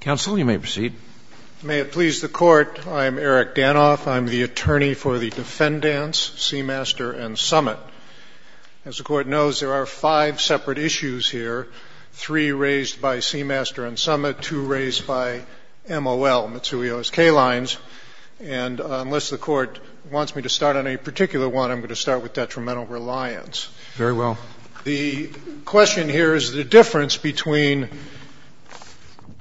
Counsel, you may proceed. May it please the Court, I am Eric Danoff. I am the attorney for the defendants, Seamaster and Summit. As the Court knows, there are five separate issues here, three raised by Seamaster and Summit, two raised by MOL, Mitsui O.S.K. Lines, and unless the Court wants me to start on a particular one, I'm going to start with detrimental reliance. Very well. The question here is the difference between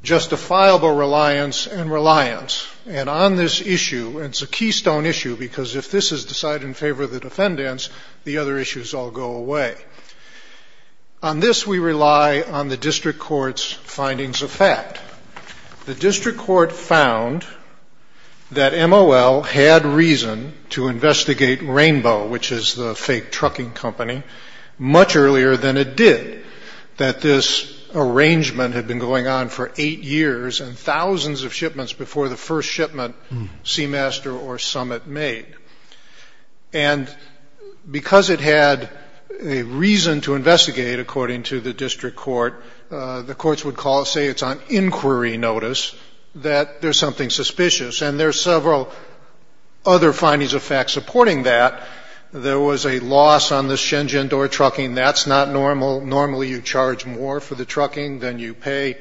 justifiable reliance and reliance. And on this issue, and it's a keystone issue because if this is decided in favor of the defendants, the other issues all go away. On this, we rely on the district court's findings of fact. The district court found that MOL had reason to investigate Rainbow, which is the fake trucking company, much earlier than it did, that this arrangement had been going on for eight years and thousands of shipments before the first shipment Seamaster or Summit made. And because it had a reason to investigate, according to the district court, the courts would say it's on inquiry notice, that there's something suspicious. And there are several other findings of fact supporting that. There was a loss on the Shenzhen Door trucking. That's not normal. Normally you charge more for the trucking than you pay.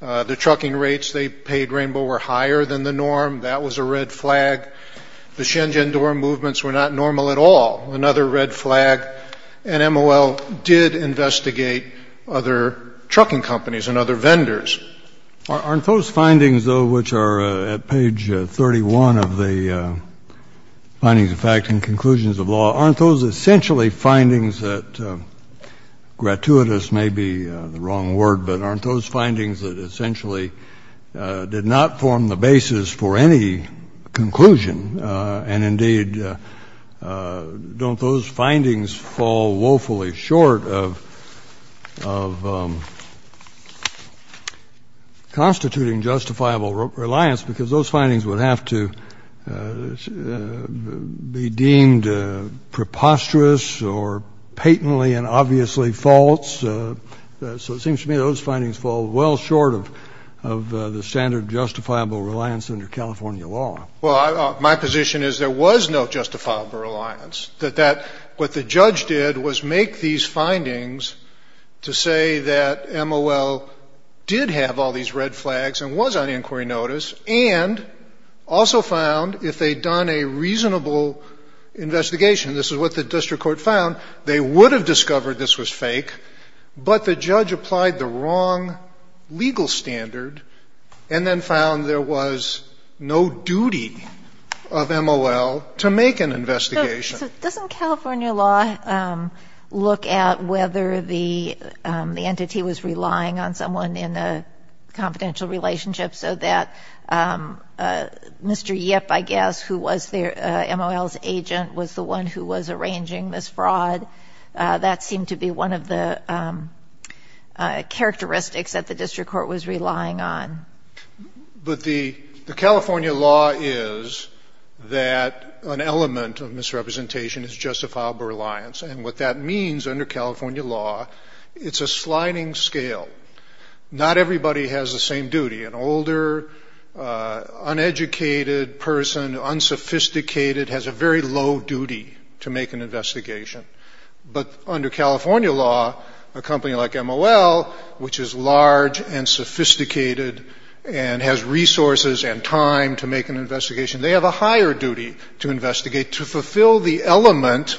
The trucking rates they paid Rainbow were higher than the norm. That was a red flag. The Shenzhen Door movements were not normal at all, another red flag. And MOL did investigate other trucking companies and other vendors. Kennedy. Aren't those findings, though, which are at page 31 of the findings of fact and conclusions of law, aren't those essentially findings that gratuitous may be the wrong word, but aren't those findings that essentially did not form the basis for any conclusion and, indeed, don't those findings fall woefully short of constituting justifiable reliance because those findings would have to be deemed preposterous or patently and obviously false? So it seems to me those findings fall well short of the standard justifiable reliance under California law. Well, my position is there was no justifiable reliance, that what the judge did was make these findings to say that MOL did have all these red flags and was on inquiry notice and also found if they'd done a reasonable investigation, this is what the district court found, they would have discovered this was fake, but the judge applied the wrong legal standard and then found there was no duty of MOL to make an investigation. So doesn't California law look at whether the entity was relying on someone in a confidential relationship so that Mr. Yip, I guess, who was MOL's agent, was the one who was arranging this fraud? That seemed to be one of the characteristics that the district court was relying on. But the California law is that an element of misrepresentation is justifiable reliance, and what that means under California law, it's a sliding scale. Not everybody has the same duty. An older, uneducated person, unsophisticated, has a very low duty to make an investigation. But under California law, a company like MOL, which is large and sophisticated and has resources and time to make an investigation, they have a higher duty to investigate to fulfill the element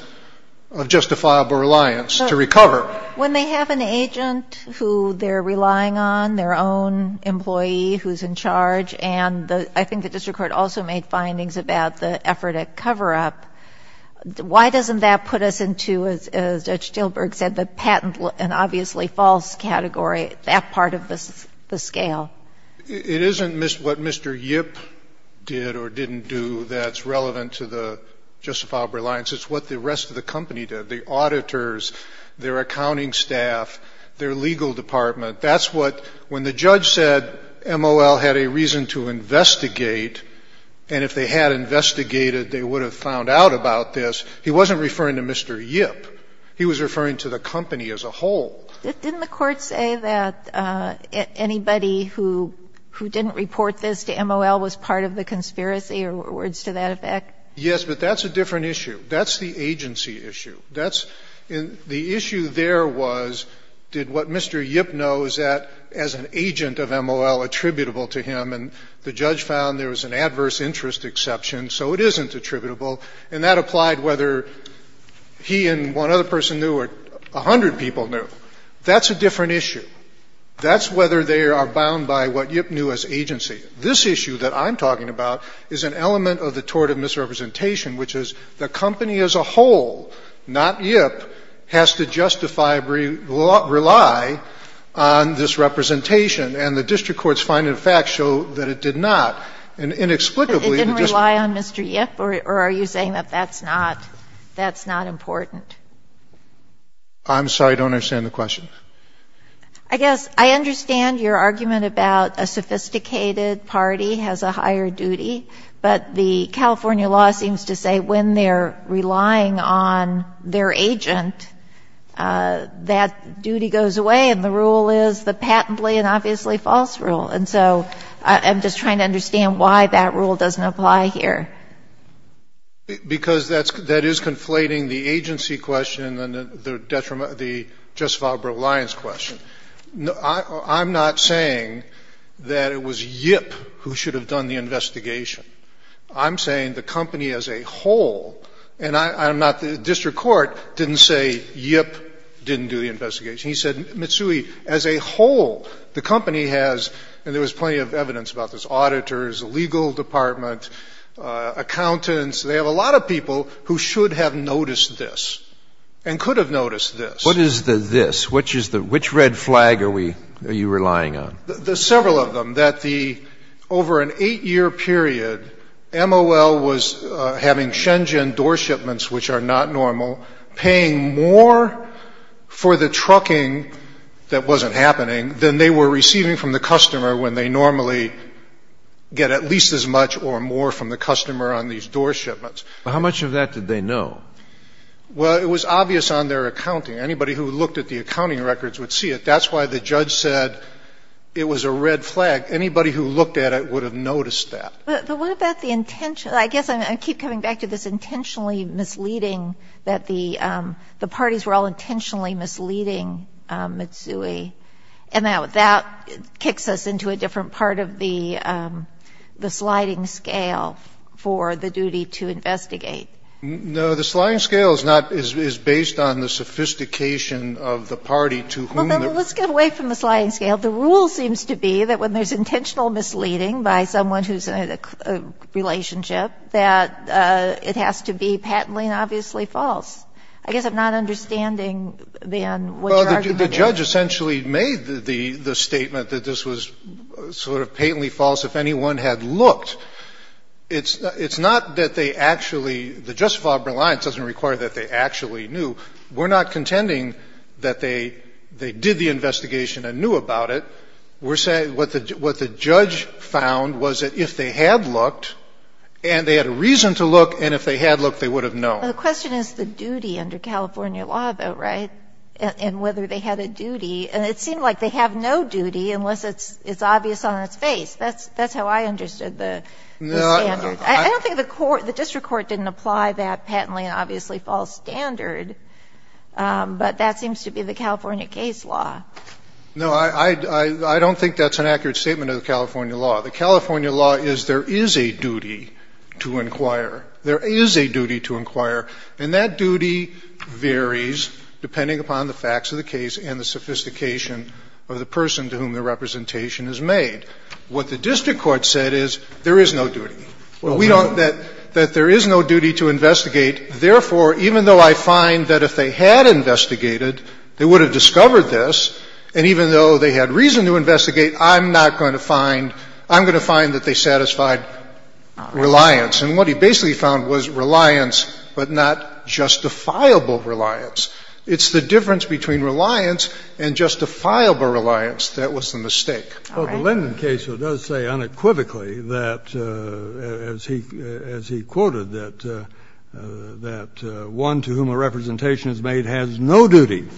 of justifiable reliance to recover. When they have an agent who they're relying on, their own employee who's in charge, and I think the district court also made findings about the effort at cover-up, why doesn't that put us into, as Judge Stilberg said, the patent and obviously false category, that part of the scale? It isn't what Mr. Yip did or didn't do that's relevant to the justifiable reliance. It's what the rest of the company did. The auditors, their accounting staff, their legal department. That's what, when the judge said MOL had a reason to investigate, and if they had investigated, they would have found out about this, he wasn't referring to Mr. Yip. He was referring to the company as a whole. Didn't the Court say that anybody who didn't report this to MOL was part of the conspiracy or words to that effect? Yes, but that's a different issue. That's the agency issue. That's the issue there was did what Mr. Yip knows as an agent of MOL attributable to him, and the judge found there was an adverse interest exception, so it isn't attributable, and that applied whether he and one other person knew or a hundred people knew. That's a different issue. That's whether they are bound by what Yip knew as agency. This issue that I'm talking about is an element of the tort of misrepresentation, which is the company as a whole, not Yip, has to justify, rely on this representation, and the district court's finding of fact showed that it did not, and inexplicably the district court. But it didn't rely on Mr. Yip, or are you saying that that's not, that's not important? I'm sorry, I don't understand the question. I guess I understand your argument about a sophisticated party has a higher duty, but the California law seems to say when they're relying on their agent, that duty goes away, and the rule is the patently and obviously false rule. And so I'm just trying to understand why that rule doesn't apply here. Because that's, that is conflating the agency question and the detriment, the just vulnerable reliance question. I'm not saying that it was Yip who should have done the investigation. I'm saying the company as a whole, and I'm not, the district court didn't say Yip didn't do the investigation. He said, Mitsui, as a whole, the company has, and there was plenty of evidence about this, auditors, legal department, accountants, they have a lot of people who should have noticed this and could have noticed this. What is the this? Which is the, which red flag are we, are you relying on? There's several of them. That the, over an 8-year period, MOL was having Shenzhen door shipments, which are not normal, paying more for the trucking that wasn't happening than they were receiving from the customer when they normally get at least as much or more from the customer on these door shipments. How much of that did they know? Well, it was obvious on their accounting. Anybody who looked at the accounting records would see it. That's why the judge said it was a red flag. Anybody who looked at it would have noticed that. But what about the intention? I guess I keep coming back to this intentionally misleading, that the parties were all intentionally misleading Mitsui. And that kicks us into a different part of the sliding scale for the duty to investigate. No. The sliding scale is not, is based on the sophistication of the party to whom. Well, then let's get away from the sliding scale. The rule seems to be that when there's intentional misleading by someone who's in a relationship, that it has to be patently and obviously false. I guess I'm not understanding, then, what your argument is. Well, the judge essentially made the statement that this was sort of patently false if anyone had looked. It's not that they actually, the justifiable reliance doesn't require that they actually knew. We're not contending that they did the investigation and knew about it. We're saying what the judge found was that if they had looked, and they had a reason to look, and if they had looked, they would have known. Well, the question is the duty under California law, though, right, and whether they had a duty. And it seemed like they have no duty unless it's obvious on its face. That's how I understood the standard. I don't think the court, the district court didn't apply that patently and obviously false standard, but that seems to be the California case law. No, I don't think that's an accurate statement of the California law. The California law is there is a duty to inquire. There is a duty to inquire, and that duty varies depending upon the facts of the case and the sophistication of the person to whom the representation is made. What the district court said is there is no duty. We don't, that there is no duty to investigate. Therefore, even though I find that if they had investigated, they would have discovered this, and even though they had reason to investigate, I'm not going to find, I'm going to find that they satisfied reliance. And what he basically found was reliance, but not justifiable reliance. It's the difference between reliance and justifiable reliance that was the mistake. All right. Well, the Linden case does say unequivocally that, as he quoted, that one to whom a representation is made has no duty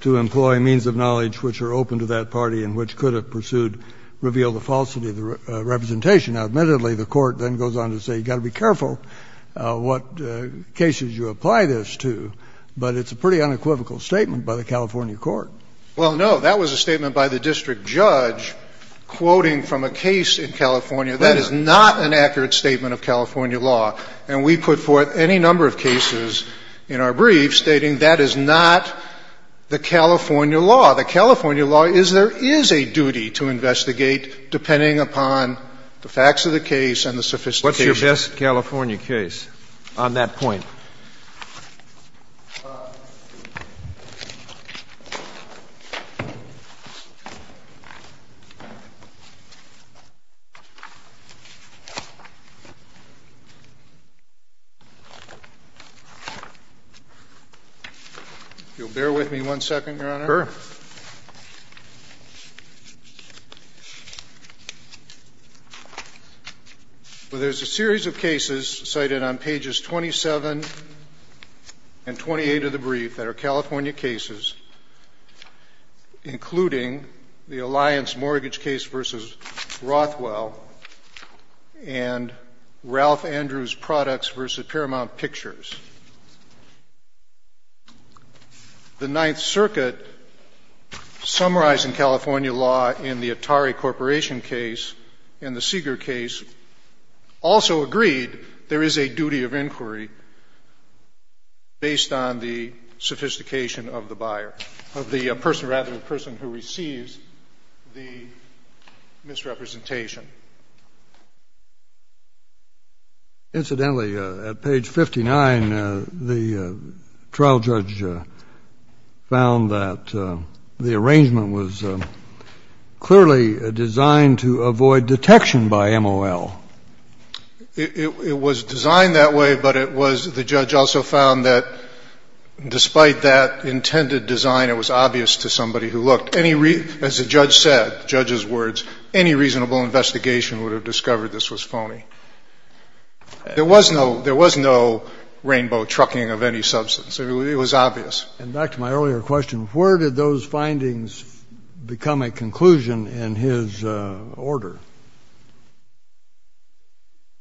to employ means of knowledge which are open to that party and which could have pursued, revealed the falsity of the representation. Now, admittedly, the court then goes on to say you got to be careful what cases you apply this to, but it's a pretty unequivocal statement by the California court. Well, no. That was a statement by the district judge quoting from a case in California. That is not an accurate statement of California law. And we put forth any number of cases in our brief stating that is not the California law. The California law is there is a duty to investigate depending upon the facts of the case and the sophistication. What's your best California case on that point? You'll bear with me one second, Your Honor. Well, there's a series of cases cited on pages 27 and 28 of the brief that are California cases, including the Alliance mortgage case v. Rothwell and Ralph Andrews' products v. Paramount Pictures. The Ninth Circuit summarized in California law in the Atari Corporation case and the Seeger case also agreed there is a duty of inquiry based on the sophistication of the buyer, of the person, rather the person who receives the misrepresentation. In the case of the Seeger case, there is a duty of inquiry based on the sophistication of the buyer, of the person, rather the person who receives the misrepresentation. Incidentally, at page 59, the trial judge found that the arrangement was clearly designed to avoid detection by MOL. It was designed that way, but it was the judge also found that despite that intended design, it was obvious to somebody who looked. As the judge said, the judge's words, any reasonable investigation would have discovered this was phony. There was no rainbow trucking of any substance. It was obvious. And back to my earlier question, where did those findings become a conclusion in his order?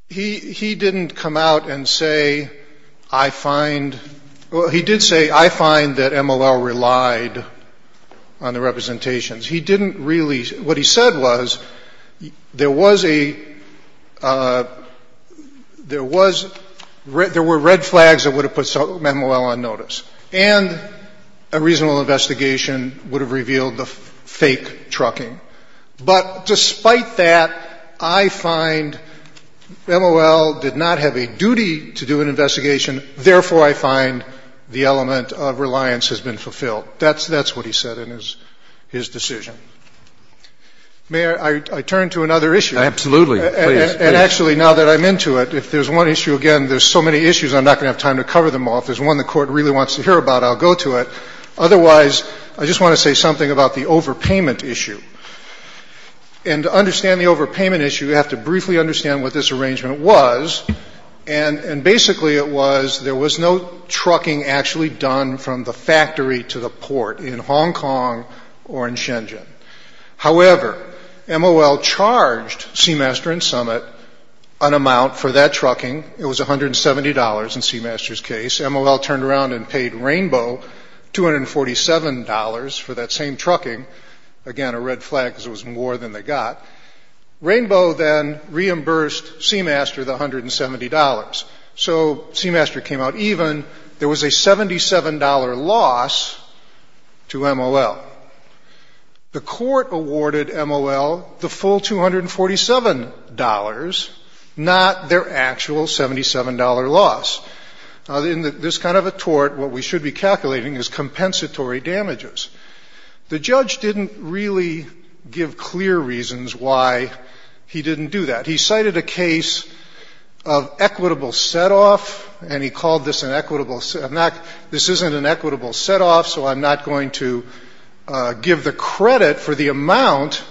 He didn't come out and say, I find, well, he did say, I find that MOL relied on the representations. He didn't really, what he said was, there was a, there was, there were red flags that would have put MOL on notice, and a reasonable investigation would have revealed the fake trucking. But despite that, I find MOL did not have a duty to do an investigation. Therefore, I find the element of reliance has been fulfilled. That's what he said in his decision. May I turn to another issue? Absolutely. And actually, now that I'm into it, if there's one issue, again, there's so many issues, I'm not going to have time to cover them all. If there's one the Court really wants to hear about, I'll go to it. Otherwise, I just want to say something about the overpayment issue. And to understand the overpayment issue, you have to briefly understand what this arrangement was. And basically it was, there was no trucking actually done from the factory to the port in Hong Kong or in Shenzhen. However, MOL charged Seamaster and Summit an amount for that trucking. It was $170 in Seamaster's case. MOL turned around and paid Rainbow $247 for that same trucking. Again, a red flag because it was more than they got. Rainbow then reimbursed Seamaster the $170. So Seamaster came out even. There was a $77 loss to MOL. The Court awarded MOL the full $247, not their actual $77 loss. In this kind of a tort, what we should be calculating is compensatory damages. The judge didn't really give clear reasons why he didn't do that. He cited a case of equitable set-off, and he called this an equitable set-off. This isn't an equitable set-off, so I'm not going to give the credit for the amount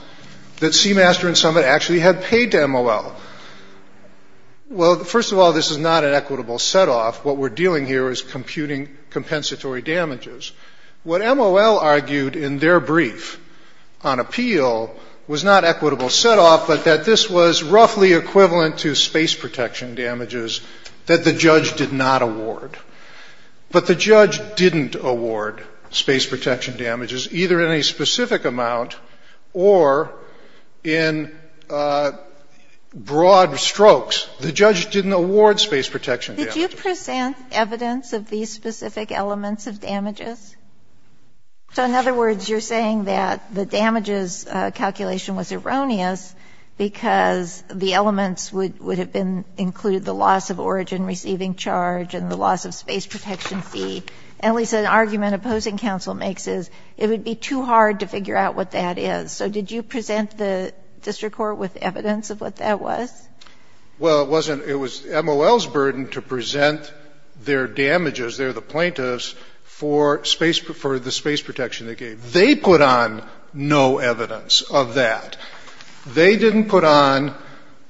that Seamaster and Summit actually had paid to MOL. Well, first of all, this is not an equitable set-off. What we're dealing here is computing compensatory damages. What MOL argued in their brief on appeal was not equitable set-off, but that this was roughly equivalent to space protection damages that the judge did not award. But the judge didn't award space protection damages, either in a specific amount or in broad strokes. The judge didn't award space protection damages. Sotomayor, did you present evidence of these specific elements of damages? So in other words, you're saying that the damages calculation was erroneous because the elements would have been included, the loss of origin receiving charge and the loss of space protection fee. At least an argument opposing counsel makes is it would be too hard to figure out what that is. So did you present the district court with evidence of what that was? Well, it was MOL's burden to present their damages, their plaintiffs, for the space protection they gave. They put on no evidence of that. They didn't put on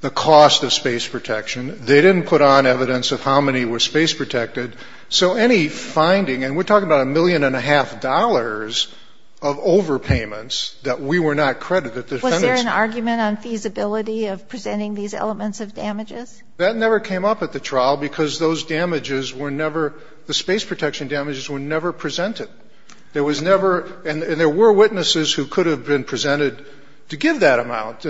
the cost of space protection. They didn't put on evidence of how many were space protected. So any finding, and we're talking about a million and a half dollars of overpayments that we were not credited. Was there an argument on feasibility of presenting these elements of damages? That never came up at the trial because those damages were never, the space protection damages were never presented. There was never, and there were witnesses who could have been presented to give that amount.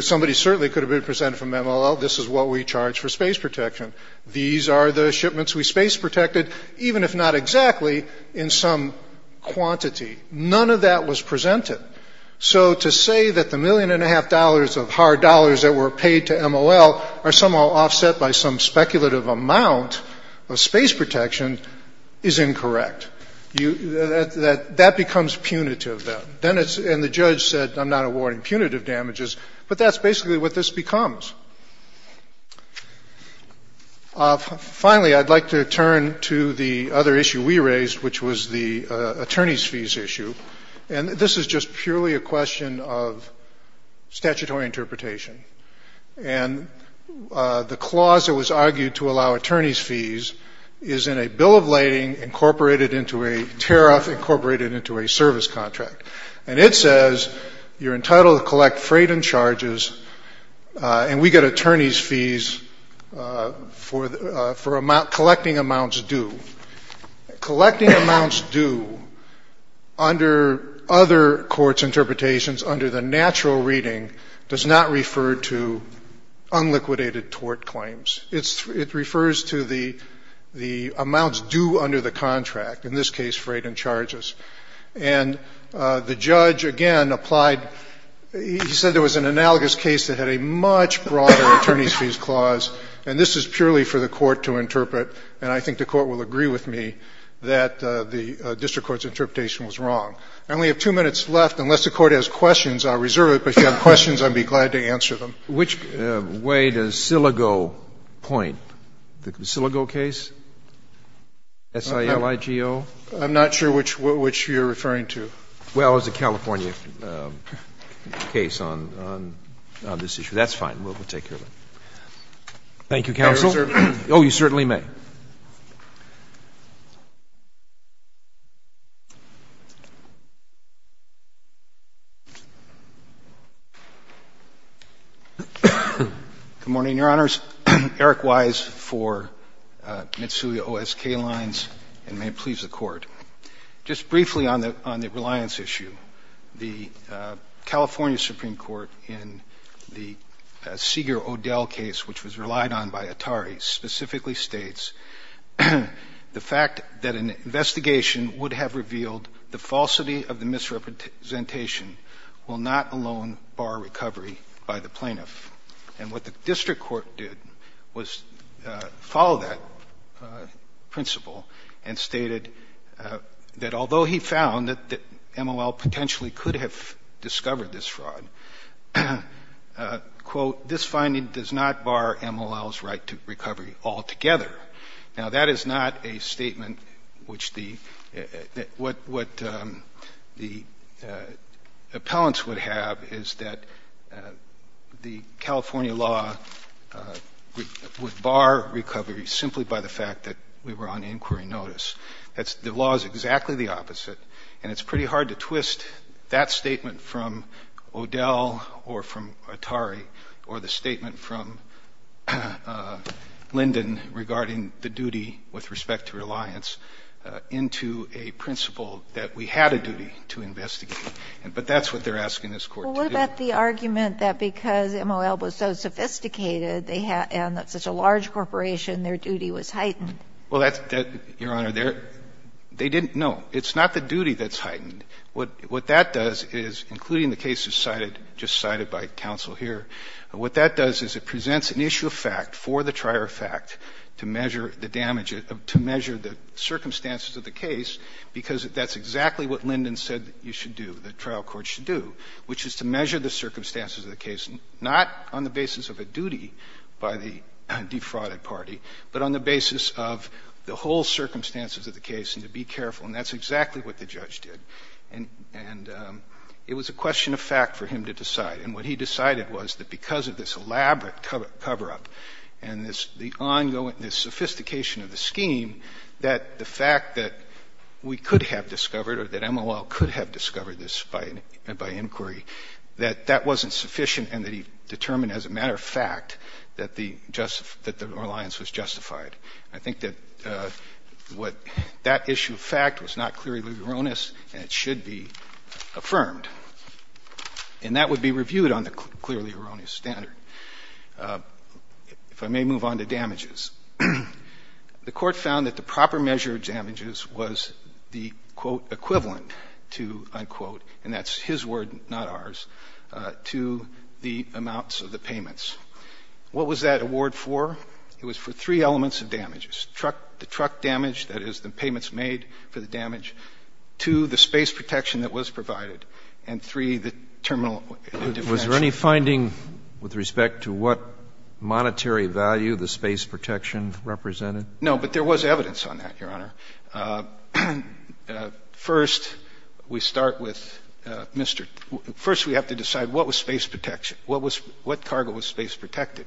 Somebody certainly could have been presented from MOL, this is what we charge for space protection. These are the shipments we space protected, even if not exactly, in some quantity. None of that was presented. So to say that the million and a half dollars of hard dollars that were paid to MOL are somehow offset by some speculative amount of space protection is incorrect. That becomes punitive then. And the judge said, I'm not awarding punitive damages. But that's basically what this becomes. Finally, I'd like to turn to the other issue we raised, which was the attorney's fees issue. And this is just purely a question of statutory interpretation. And the clause that was argued to allow attorney's fees is in a bill of lading incorporated into a tariff incorporated into a service contract. And it says you're entitled to collect freight and charges, and we get attorney's fees for collecting amounts due. Collecting amounts due under other courts' interpretations, under the natural reading, does not refer to unliquidated tort claims. It refers to the amounts due under the contract, in this case, freight and charges. And the judge, again, applied he said there was an analogous case that had a much broader attorney's fees clause, and this is purely for the court to interpret, and I think the Court will agree with me that the district court's interpretation was wrong. I only have two minutes left. Unless the Court has questions, I'll reserve it. But if you have questions, I'd be glad to answer them. Which way does SILIGO point? The SILIGO case? S-I-L-I-G-O? I'm not sure which you're referring to. Well, it was a California case on this issue. That's fine. We'll take care of it. Thank you, counsel. May I reserve? Oh, you certainly may. Good morning, Your Honors. Eric Wise for Mitsui OSK Lines, and may it please the Court. Just briefly on the reliance issue, the California Supreme Court in the Seeger-Odell case, which was relied on by Atari, specifically states the fact that an investigation would have revealed the falsity of the misrepresentation will not alone bar recovery by the plaintiff. And what the district court did was follow that principle and stated that although he found that MOL potentially could have discovered this fraud, quote, this finding does not bar MOL's right to recovery altogether. Now, that is not a statement which the – what the appellants would have is that the California law would bar recovery simply by the fact that we were on inquiry notice. That's – the law is exactly the opposite, and it's pretty hard to twist that statement from Odell or from Atari or the statement from Linden regarding the duty with respect to reliance into a principle that we had a duty to investigate. But that's what they're asking this Court to do. Well, what about the argument that because MOL was so sophisticated and such a large corporation, their duty was heightened? Well, that's – Your Honor, they didn't – no. It's not the duty that's heightened. What that does is, including the cases cited, just cited by counsel here, what that does is it presents an issue of fact for the trier of fact to measure the damage of – to measure the circumstances of the case, because that's exactly what Linden said you should do, the trial court should do, which is to measure the circumstances of the case, not on the basis of a duty by the defrauded party, but on the basis of the whole circumstances of the case and to be careful. And that's exactly what the judge did. And it was a question of fact for him to decide. And what he decided was that because of this elaborate cover-up and this – the ongoing – this sophistication of the scheme, that the fact that we could have discovered or that MOL could have discovered this by inquiry, that that wasn't sufficient and that he determined as a matter of fact that the – that the reliance was justified. I think that what – that issue of fact was not clearly erroneous and it should be affirmed. And that would be reviewed on the clearly erroneous standard. If I may move on to damages. The Court found that the proper measure of damages was the, quote, equivalent to, unquote – and that's his word, not ours – to the amounts of the payments. What was that award for? It was for three elements of damages. Truck – the truck damage, that is, the payments made for the damage. Two, the space protection that was provided. And three, the terminal – Was there any finding with respect to what monetary value the space protection represented? No, but there was evidence on that, Your Honor. First, we start with Mr. – first, we have to decide what was space protection. What was – what cargo was space protected?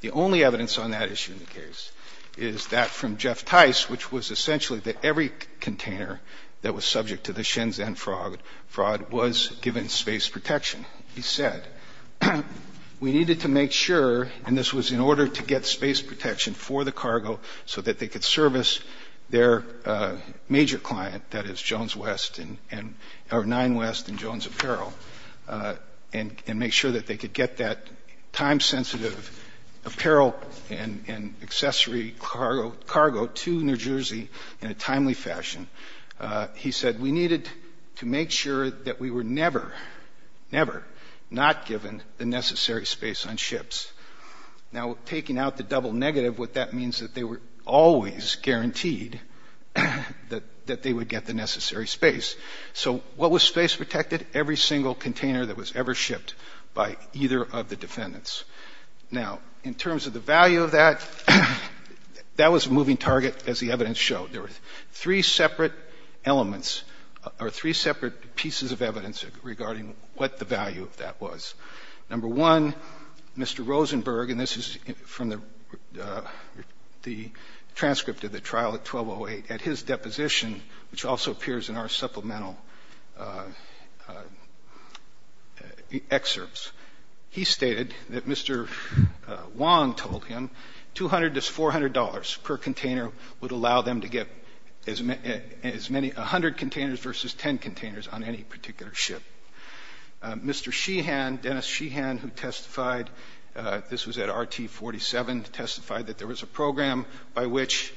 The only evidence on that issue in the case is that from Jeff Tice, which was essentially that every container that was subject to the Shenzhen fraud was given space protection. He said, we needed to make sure – and this was in order to get space protection for the cargo so that they could service their major client, that is, Jones West and – or Nine West and Jones Apparel, and make sure that they could get that time-sensitive apparel and accessory cargo to New Jersey in a timely fashion. He said, we needed to make sure that we were never, never not given the necessary space on ships. Now, taking out the double negative, what that means is that they were always guaranteed that they would get the necessary space. So what was space protected? Every single container that was ever shipped by either of the defendants. Now, in terms of the value of that, that was a moving target, as the evidence showed. There were three separate elements or three separate pieces of evidence regarding what the value of that was. Number one, Mr. Rosenberg – and this is from the transcript of the trial at 1208 – at his deposition, which also appears in our supplemental excerpts, he stated that Mr. Wong told him $200 to $400 per container would allow them to get as many – 100 containers versus 10 containers on any particular ship. Mr. Sheehan, Dennis Sheehan, who testified – this was at RT-47 – testified that there was a program by which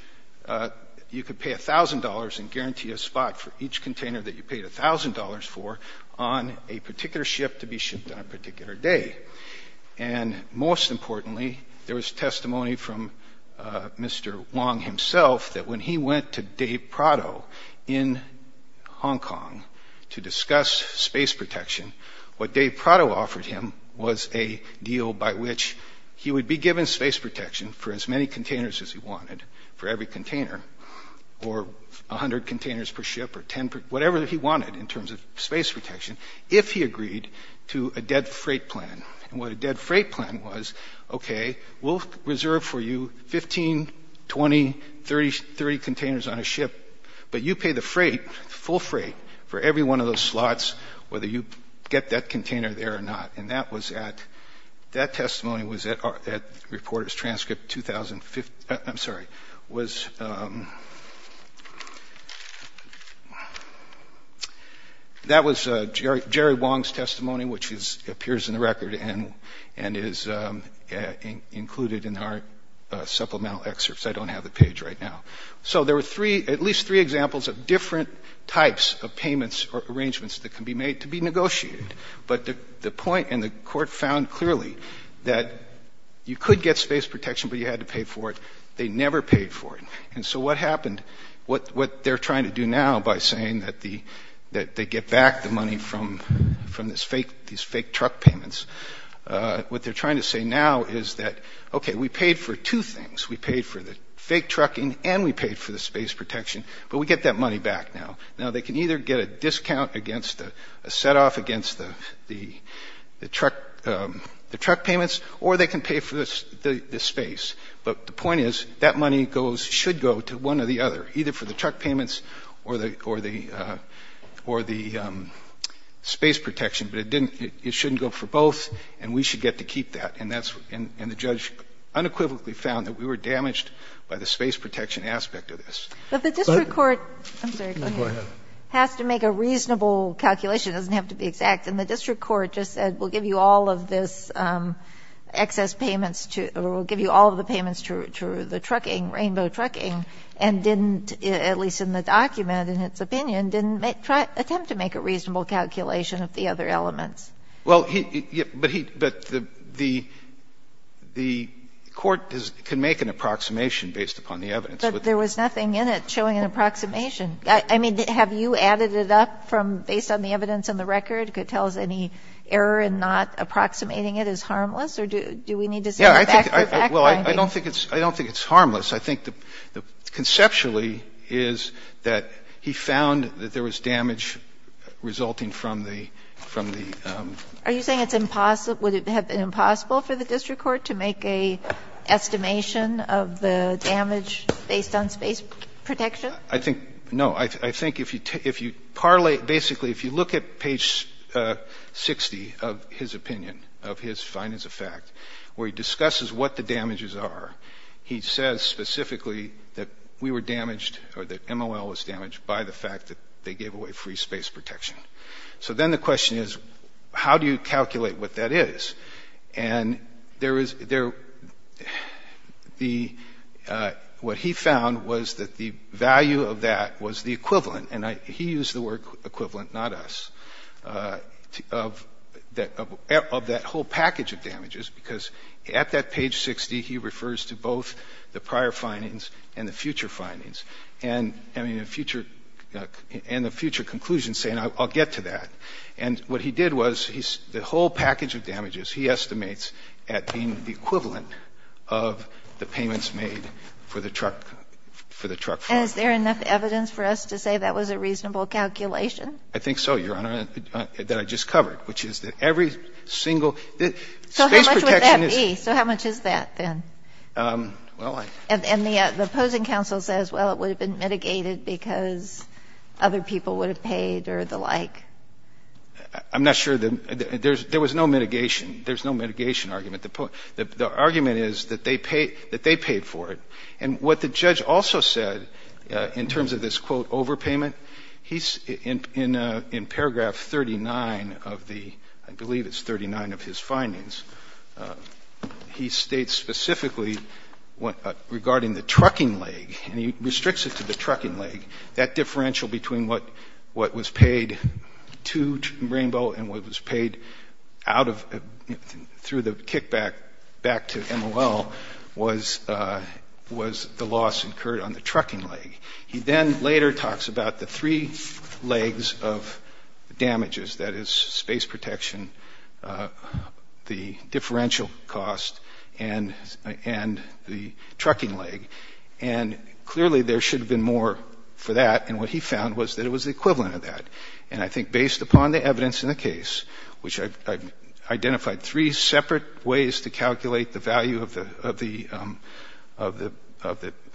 you could pay $1,000 and guarantee a spot for each container that you paid $1,000 for on a particular ship to be shipped on a particular day. And most importantly, there was testimony from Mr. Wong himself that when he went to Dave Prado in Hong Kong to discuss space protection, what Dave Prado offered him was a deal by which he would be given space protection for as many containers as he wanted for every container or 100 containers per ship or 10 – whatever he wanted in terms of space protection if he agreed to a dead freight plan. And what a dead freight plan was, okay, we'll reserve for you 15, 20, 30 containers on a ship, but you pay the freight, the full freight, for every one of those slots whether you get that container there or not. And that was at – that testimony was at Reporters Transcript 2015 – I'm sorry – that was – that was Jerry Wong's testimony, which is – appears in the record and is included in our supplemental excerpts. I don't have the page right now. So there were three – at least three examples of different types of payments or arrangements that can be made to be negotiated. But the point – and the court found clearly that you could get space protection, but you had to pay for it. They never paid for it. And so what happened – what they're trying to do now by saying that the – that they get back the money from these fake truck payments, what they're trying to say now is that, okay, we paid for two things. We paid for the fake trucking and we paid for the space protection, but we get that money back now. Now, they can either get a discount against – a set-off against the truck payments or they can pay for the space. But the point is that money goes – should go to one or the other, either for the truck payments or the – or the space protection. But it didn't – it shouldn't go for both, and we should get to keep that. And that's – and the judge unequivocally found that we were damaged by the space protection aspect of this. But the district court – I'm sorry. Go ahead. Has to make a reasonable calculation. It doesn't have to be exact. And the district court just said we'll give you all of this excess payments to – or we'll give you all of the payments to the trucking, rainbow trucking, and didn't, at least in the document, in its opinion, didn't attempt to make a reasonable calculation of the other elements. Well, he – but he – but the court can make an approximation based upon the evidence. But there was nothing in it showing an approximation. I mean, have you added it up from – based on the evidence in the record? Could it tell us any error in not approximating it is harmless, or do we need to say back-to-back finding? Well, I don't think it's – I don't think it's harmless. I think the – conceptually is that he found that there was damage resulting from the – from the – Are you saying it's impossible – would it have been impossible for the district court to make an estimation of the damage based on space protection? I think – no. I think if you – if you parlay – basically, if you look at page 60 of his opinion, of his findings of fact, where he discusses what the damages are, he says specifically that we were damaged or that MOL was damaged by the fact that they gave away free space protection. So then the question is, how do you calculate what that is? And there is – there – the – what he found was that the value of that was the equivalent – and he used the word equivalent, not us – of that whole package of damages, because at that page 60, he refers to both the prior findings and the future findings and, I mean, the future – and the future conclusions, saying I'll get to that. And what he did was he – the whole package of damages he estimates at being the equivalent of the payments made for the truck – for the truck farm. And is there enough evidence for us to say that was a reasonable calculation? I think so, Your Honor, that I just covered, which is that every single – space protection is – So how much would that be? So how much is that then? Well, I – And the opposing counsel says, well, it would have been mitigated because other people would have paid or the like. I'm not sure that – there was no mitigation. There's no mitigation argument. The argument is that they paid – that they paid for it. And what the judge also said in terms of this, quote, overpayment, he – in paragraph 39 of the – I believe it's 39 of his findings, he states specifically regarding the trucking leg. And he restricts it to the trucking leg. That differential between what was paid to Rainbow and what was paid out of – through the kickback back to MOL was the loss incurred on the trucking leg. He then later talks about the three legs of damages, that is, space protection, the differential cost, and the trucking leg. And clearly there should have been more for that. And what he found was that it was the equivalent of that. And I think based upon the evidence in the case, which I've identified three separate ways to calculate the value of the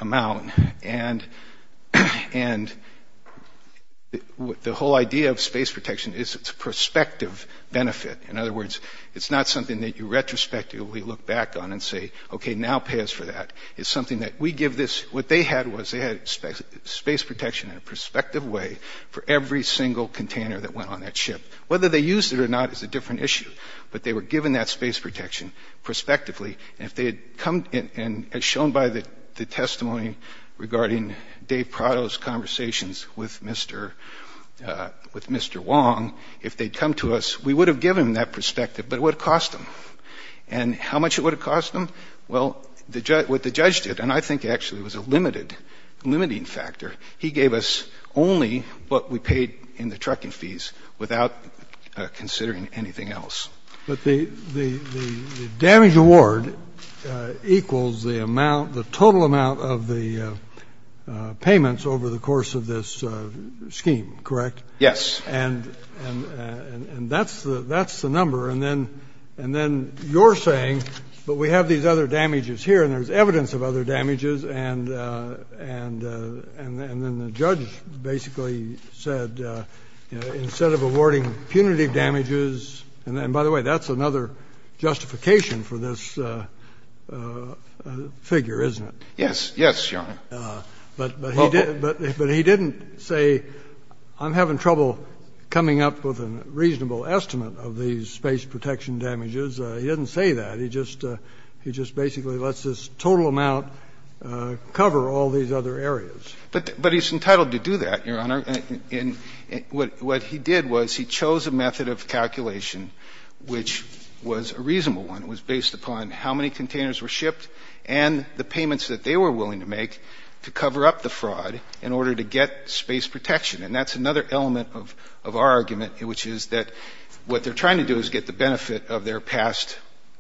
amount, and the whole idea of space protection is it's a prospective benefit. In other words, it's not something that you retrospectively look back on and say, okay, now pay us for that. It's something that we give this – what they had was they had space protection in a prospective way for every single container that went on that ship. Whether they used it or not is a different issue. But they were given that space protection prospectively. And if they had come – and as shown by the testimony regarding Dave Prado's conversations with Mr. Wong, if they'd come to us, we would have given them that perspective, but it would have cost them. And how much it would have cost them? Well, what the judge did, and I think actually it was a limiting factor, he gave us only what we paid in the trucking fees without considering anything else. But the damage award equals the amount, the total amount of the payments over the course of this scheme, correct? Yes. And that's the number. And then you're saying, but we have these other damages here and there's evidence of other damages, and then the judge basically said instead of awarding punitive damages – and by the way, that's another justification for this figure, isn't it? Yes. Yes, Your Honor. But he didn't say I'm having trouble coming up with a reasonable estimate of these space protection damages. He didn't say that. He just basically lets this total amount cover all these other areas. But he's entitled to do that, Your Honor. And what he did was he chose a method of calculation which was a reasonable one. It was based upon how many containers were shipped and the payments that they were willing to make to cover up the fraud in order to get space protection. And that's another element of our argument, which is that what they're trying to do is get the benefit of their past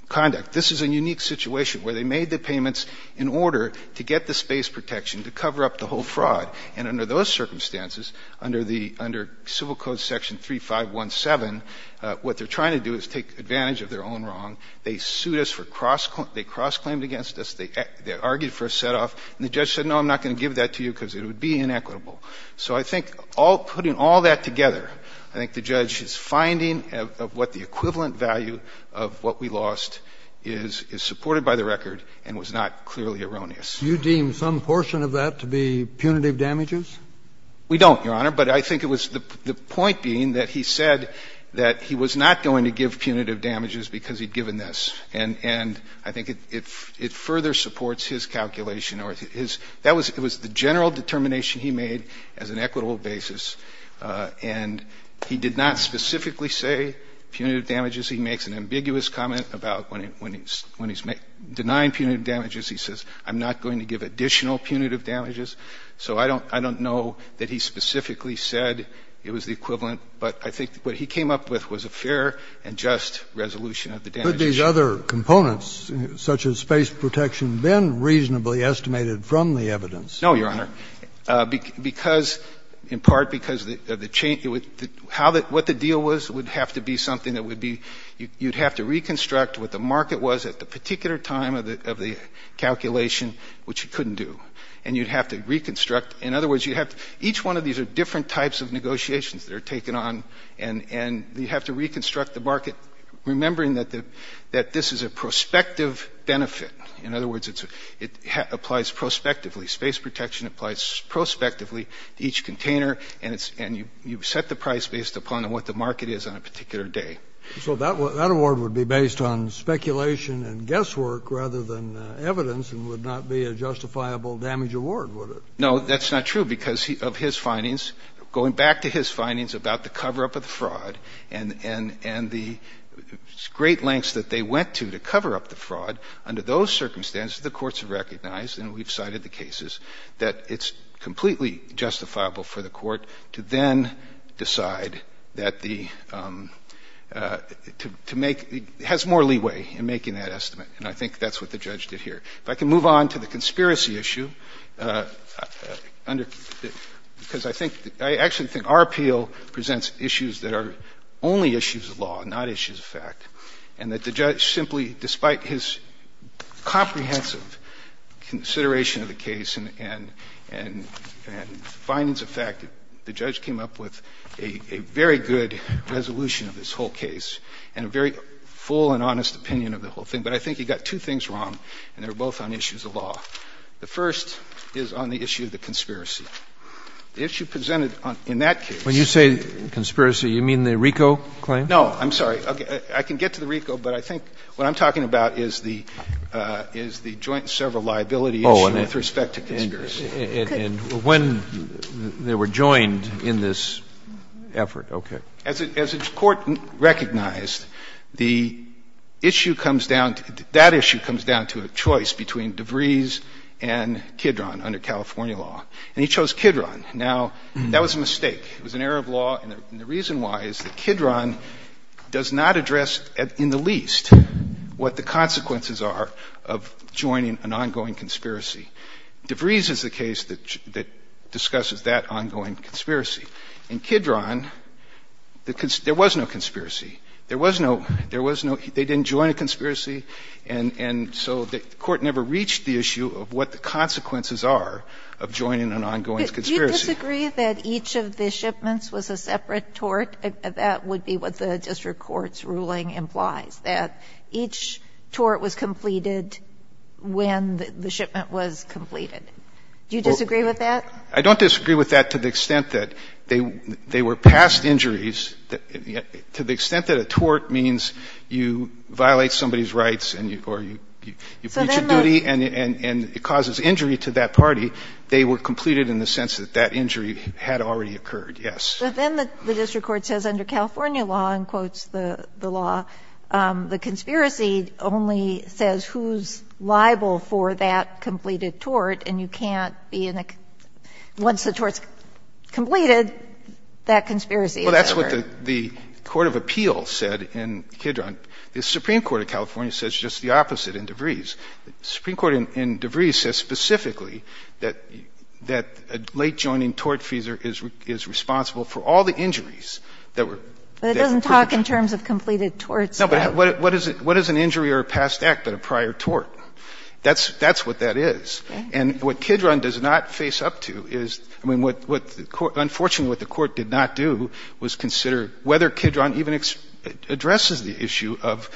conduct. This is a unique situation where they made the payments in order to get the space protection to cover up the whole fraud. And under those circumstances, under the – under Civil Code section 3517, what they're trying to do is take advantage of their own wrong. They sued us for cross – they cross-claimed against us. They argued for a set-off. And the judge said, no, I'm not going to give that to you because it would be inequitable. So I think all – putting all that together, I think the judge's finding of what the equivalent value of what we lost is supported by the record and was not clearly erroneous. You deem some portion of that to be punitive damages? We don't, Your Honor, but I think it was the point being that he said that he was not going to give punitive damages because he'd given this. And I think it further supports his calculation or his – that was the general determination he made as an equitable basis. And he did not specifically say punitive damages. He makes an ambiguous comment about when he's denying punitive damages, he says, I'm not going to give additional punitive damages. So I don't – I don't know that he specifically said it was the equivalent, but I think what he came up with was a fair and just resolution of the damages. Could these other components, such as space protection, been reasonably estimated from the evidence? No, Your Honor. Because – in part because the change – how the – what the deal was would have to be something that would be – you'd have to reconstruct what the market was at the particular time of the calculation, which you couldn't do. And you'd have to reconstruct – in other words, you'd have to – each one of these are different types of negotiations that are taken on, and you'd have to reconstruct the market, remembering that the – that this is a prospective benefit. In other words, it applies prospectively. Space protection applies prospectively to each container, and it's – and you set the price based upon what the market is on a particular day. So that award would be based on speculation and guesswork rather than evidence and would not be a justifiable damage award, would it? No, that's not true, because of his findings. Going back to his findings about the cover-up of the fraud and the great lengths that they went to to cover up the fraud, under those circumstances, the courts have recognized, and we've cited the cases, that it's completely justifiable for the court to then decide that the – to make – has more leeway in making that estimate, and I think that's what the judge did here. If I can move on to the conspiracy issue, under – because I think – I actually think our appeal presents issues that are only issues of law, not issues of fact, and that the judge simply, despite his comprehensive consideration of the case and findings of fact, the judge came up with a very good resolution of this whole case and a very full and honest opinion of the whole thing. But I think he got two things wrong, and they're both on issues of law. The first is on the issue of the conspiracy. The issue presented on – in that case – When you say conspiracy, you mean the RICO claim? No. I'm sorry. I can get to the RICO, but I think what I'm talking about is the – is the joint several liability issue with respect to conspiracy. And when they were joined in this effort. Okay. As the court recognized, the issue comes down – that issue comes down to a choice between DeVries and Kidron under California law. And he chose Kidron. Now, that was a mistake. It was an error of law, and the reason why is that Kidron does not address in the least what the consequences are of joining an ongoing conspiracy. DeVries is the case that discusses that ongoing conspiracy. In Kidron, there was no conspiracy. There was no – there was no – they didn't join a conspiracy, and so the court never reached the issue of what the consequences are of joining an ongoing conspiracy. Do you disagree that each of the shipments was a separate tort? That would be what the district court's ruling implies. That each tort was completed when the shipment was completed. Do you disagree with that? I don't disagree with that to the extent that they were past injuries. To the extent that a tort means you violate somebody's rights or you breach a duty and it causes injury to that party, they were completed in the sense that that injury had already occurred, yes. But then the district court says under California law, and quotes the law, the conspiracy only says who's liable for that completed tort, and you can't be in a – once the tort's completed, that conspiracy is over. Well, that's what the court of appeals said in Kidron. The Supreme Court of California says just the opposite in DeVries. The Supreme Court in DeVries says specifically that a late-joining tort fees is responsible for all the injuries that were – But it doesn't talk in terms of completed torts, though. No, but what is an injury or a past act but a prior tort? That's what that is. And what Kidron does not face up to is – I mean, what the court – unfortunately, what the court did not do was consider whether Kidron even addresses the issue of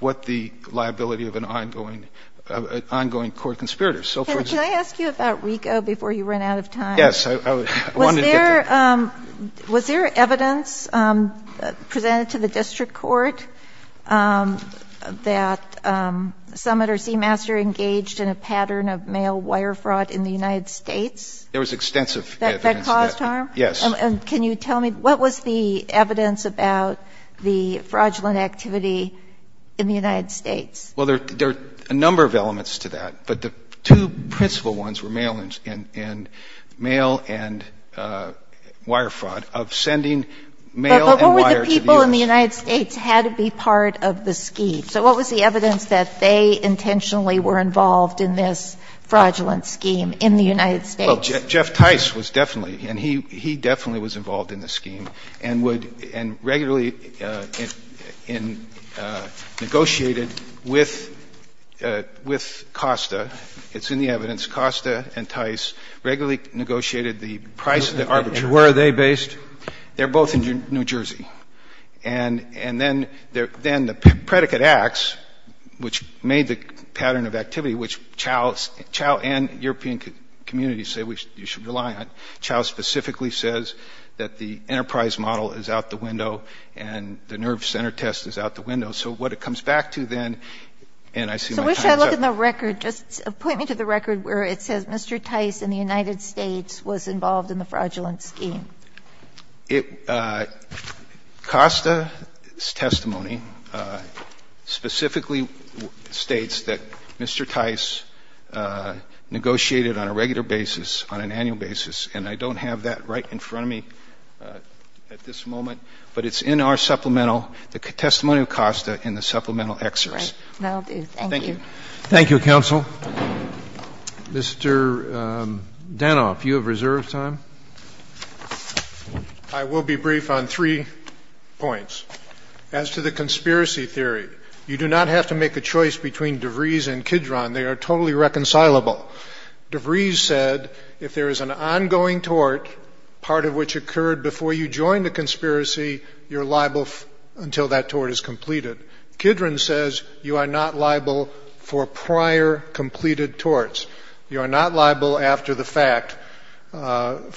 what the liability of an ongoing court conspirator. Can I ask you about RICO before you run out of time? Yes. I wanted to get to – Was there evidence presented to the district court that Summit or Seamaster engaged in a pattern of male wire fraud in the United States? There was extensive evidence that – That caused harm? Yes. And can you tell me, what was the evidence about the fraudulent activity in the United States? Well, there are a number of elements to that, but the two principal ones were male and wire fraud, of sending mail and wire to the U.S. But what were the people in the United States had to be part of the scheme? So what was the evidence that they intentionally were involved in this fraudulent scheme in the United States? Well, Jeff Tice was definitely – and he definitely was involved in the scheme and would – and regularly negotiated with – with Costa. It's in the evidence. Costa and Tice regularly negotiated the price of the arbitrage. And where are they based? They're both in New Jersey. And then the predicate acts, which made the pattern of activity, which Chau and European communities say we should rely on, Chau specifically says that the enterprise model is out the window and the nerve center test is out the window. I wish I looked at the record. Just point me to the record where it says Mr. Tice in the United States was involved in the fraudulent scheme. It – Costa's testimony specifically states that Mr. Tice negotiated on a regular basis, on an annual basis, and I don't have that right in front of me at this moment, but it's in our supplemental, the testimony of Costa in the supplemental excerpts. Right. Well, thank you. Thank you. Thank you, Counsel. Mr. Danoff, you have reserved time. I will be brief on three points. As to the conspiracy theory, you do not have to make a choice between DeVries and Kidron. They are totally reconcilable. DeVries said if there is an ongoing tort, part of which occurred before you joined a conspiracy, you're liable until that tort is completed. Kidron says you are not liable for prior completed torts. You are not liable after the fact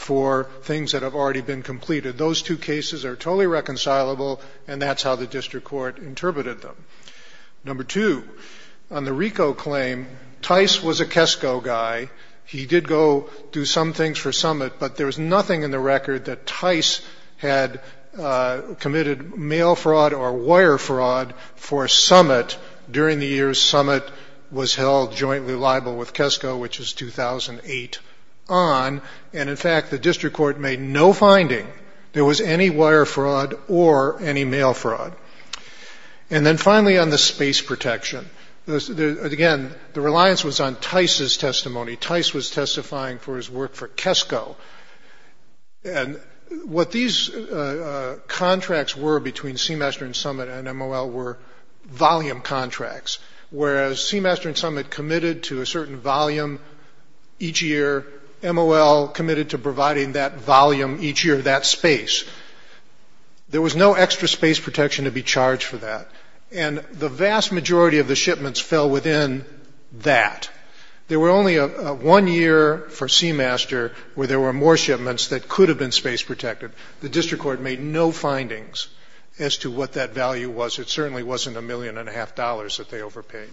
for things that have already been completed. Those two cases are totally reconcilable, and that's how the district court interpreted them. Number two, on the RICO claim, Tice was a Kesko guy. He did go do some things for Summit, but there was nothing in the record that Tice had committed mail fraud or wire fraud for Summit during the year Summit was held jointly liable with Kesko, which is 2008 on. And, in fact, the district court made no finding there was any wire fraud or any mail fraud. And then, finally, on the space protection, again, the reliance was on Tice's testimony. Tice was testifying for his work for Kesko. And what these contracts were between Seamaster and Summit and MOL were volume contracts, whereas Seamaster and Summit committed to a certain volume each year, MOL committed to providing that volume each year, that space. There was no extra space protection to be charged for that, and the vast majority of the shipments fell within that. There were only one year for Seamaster where there were more shipments that could have been space protected. The district court made no findings as to what that value was. It certainly wasn't a million and a half dollars that they overpaid.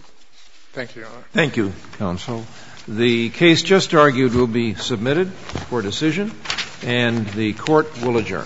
Thank you, Your Honor. Thank you, counsel. The case just argued will be submitted for decision, and the court will adjourn.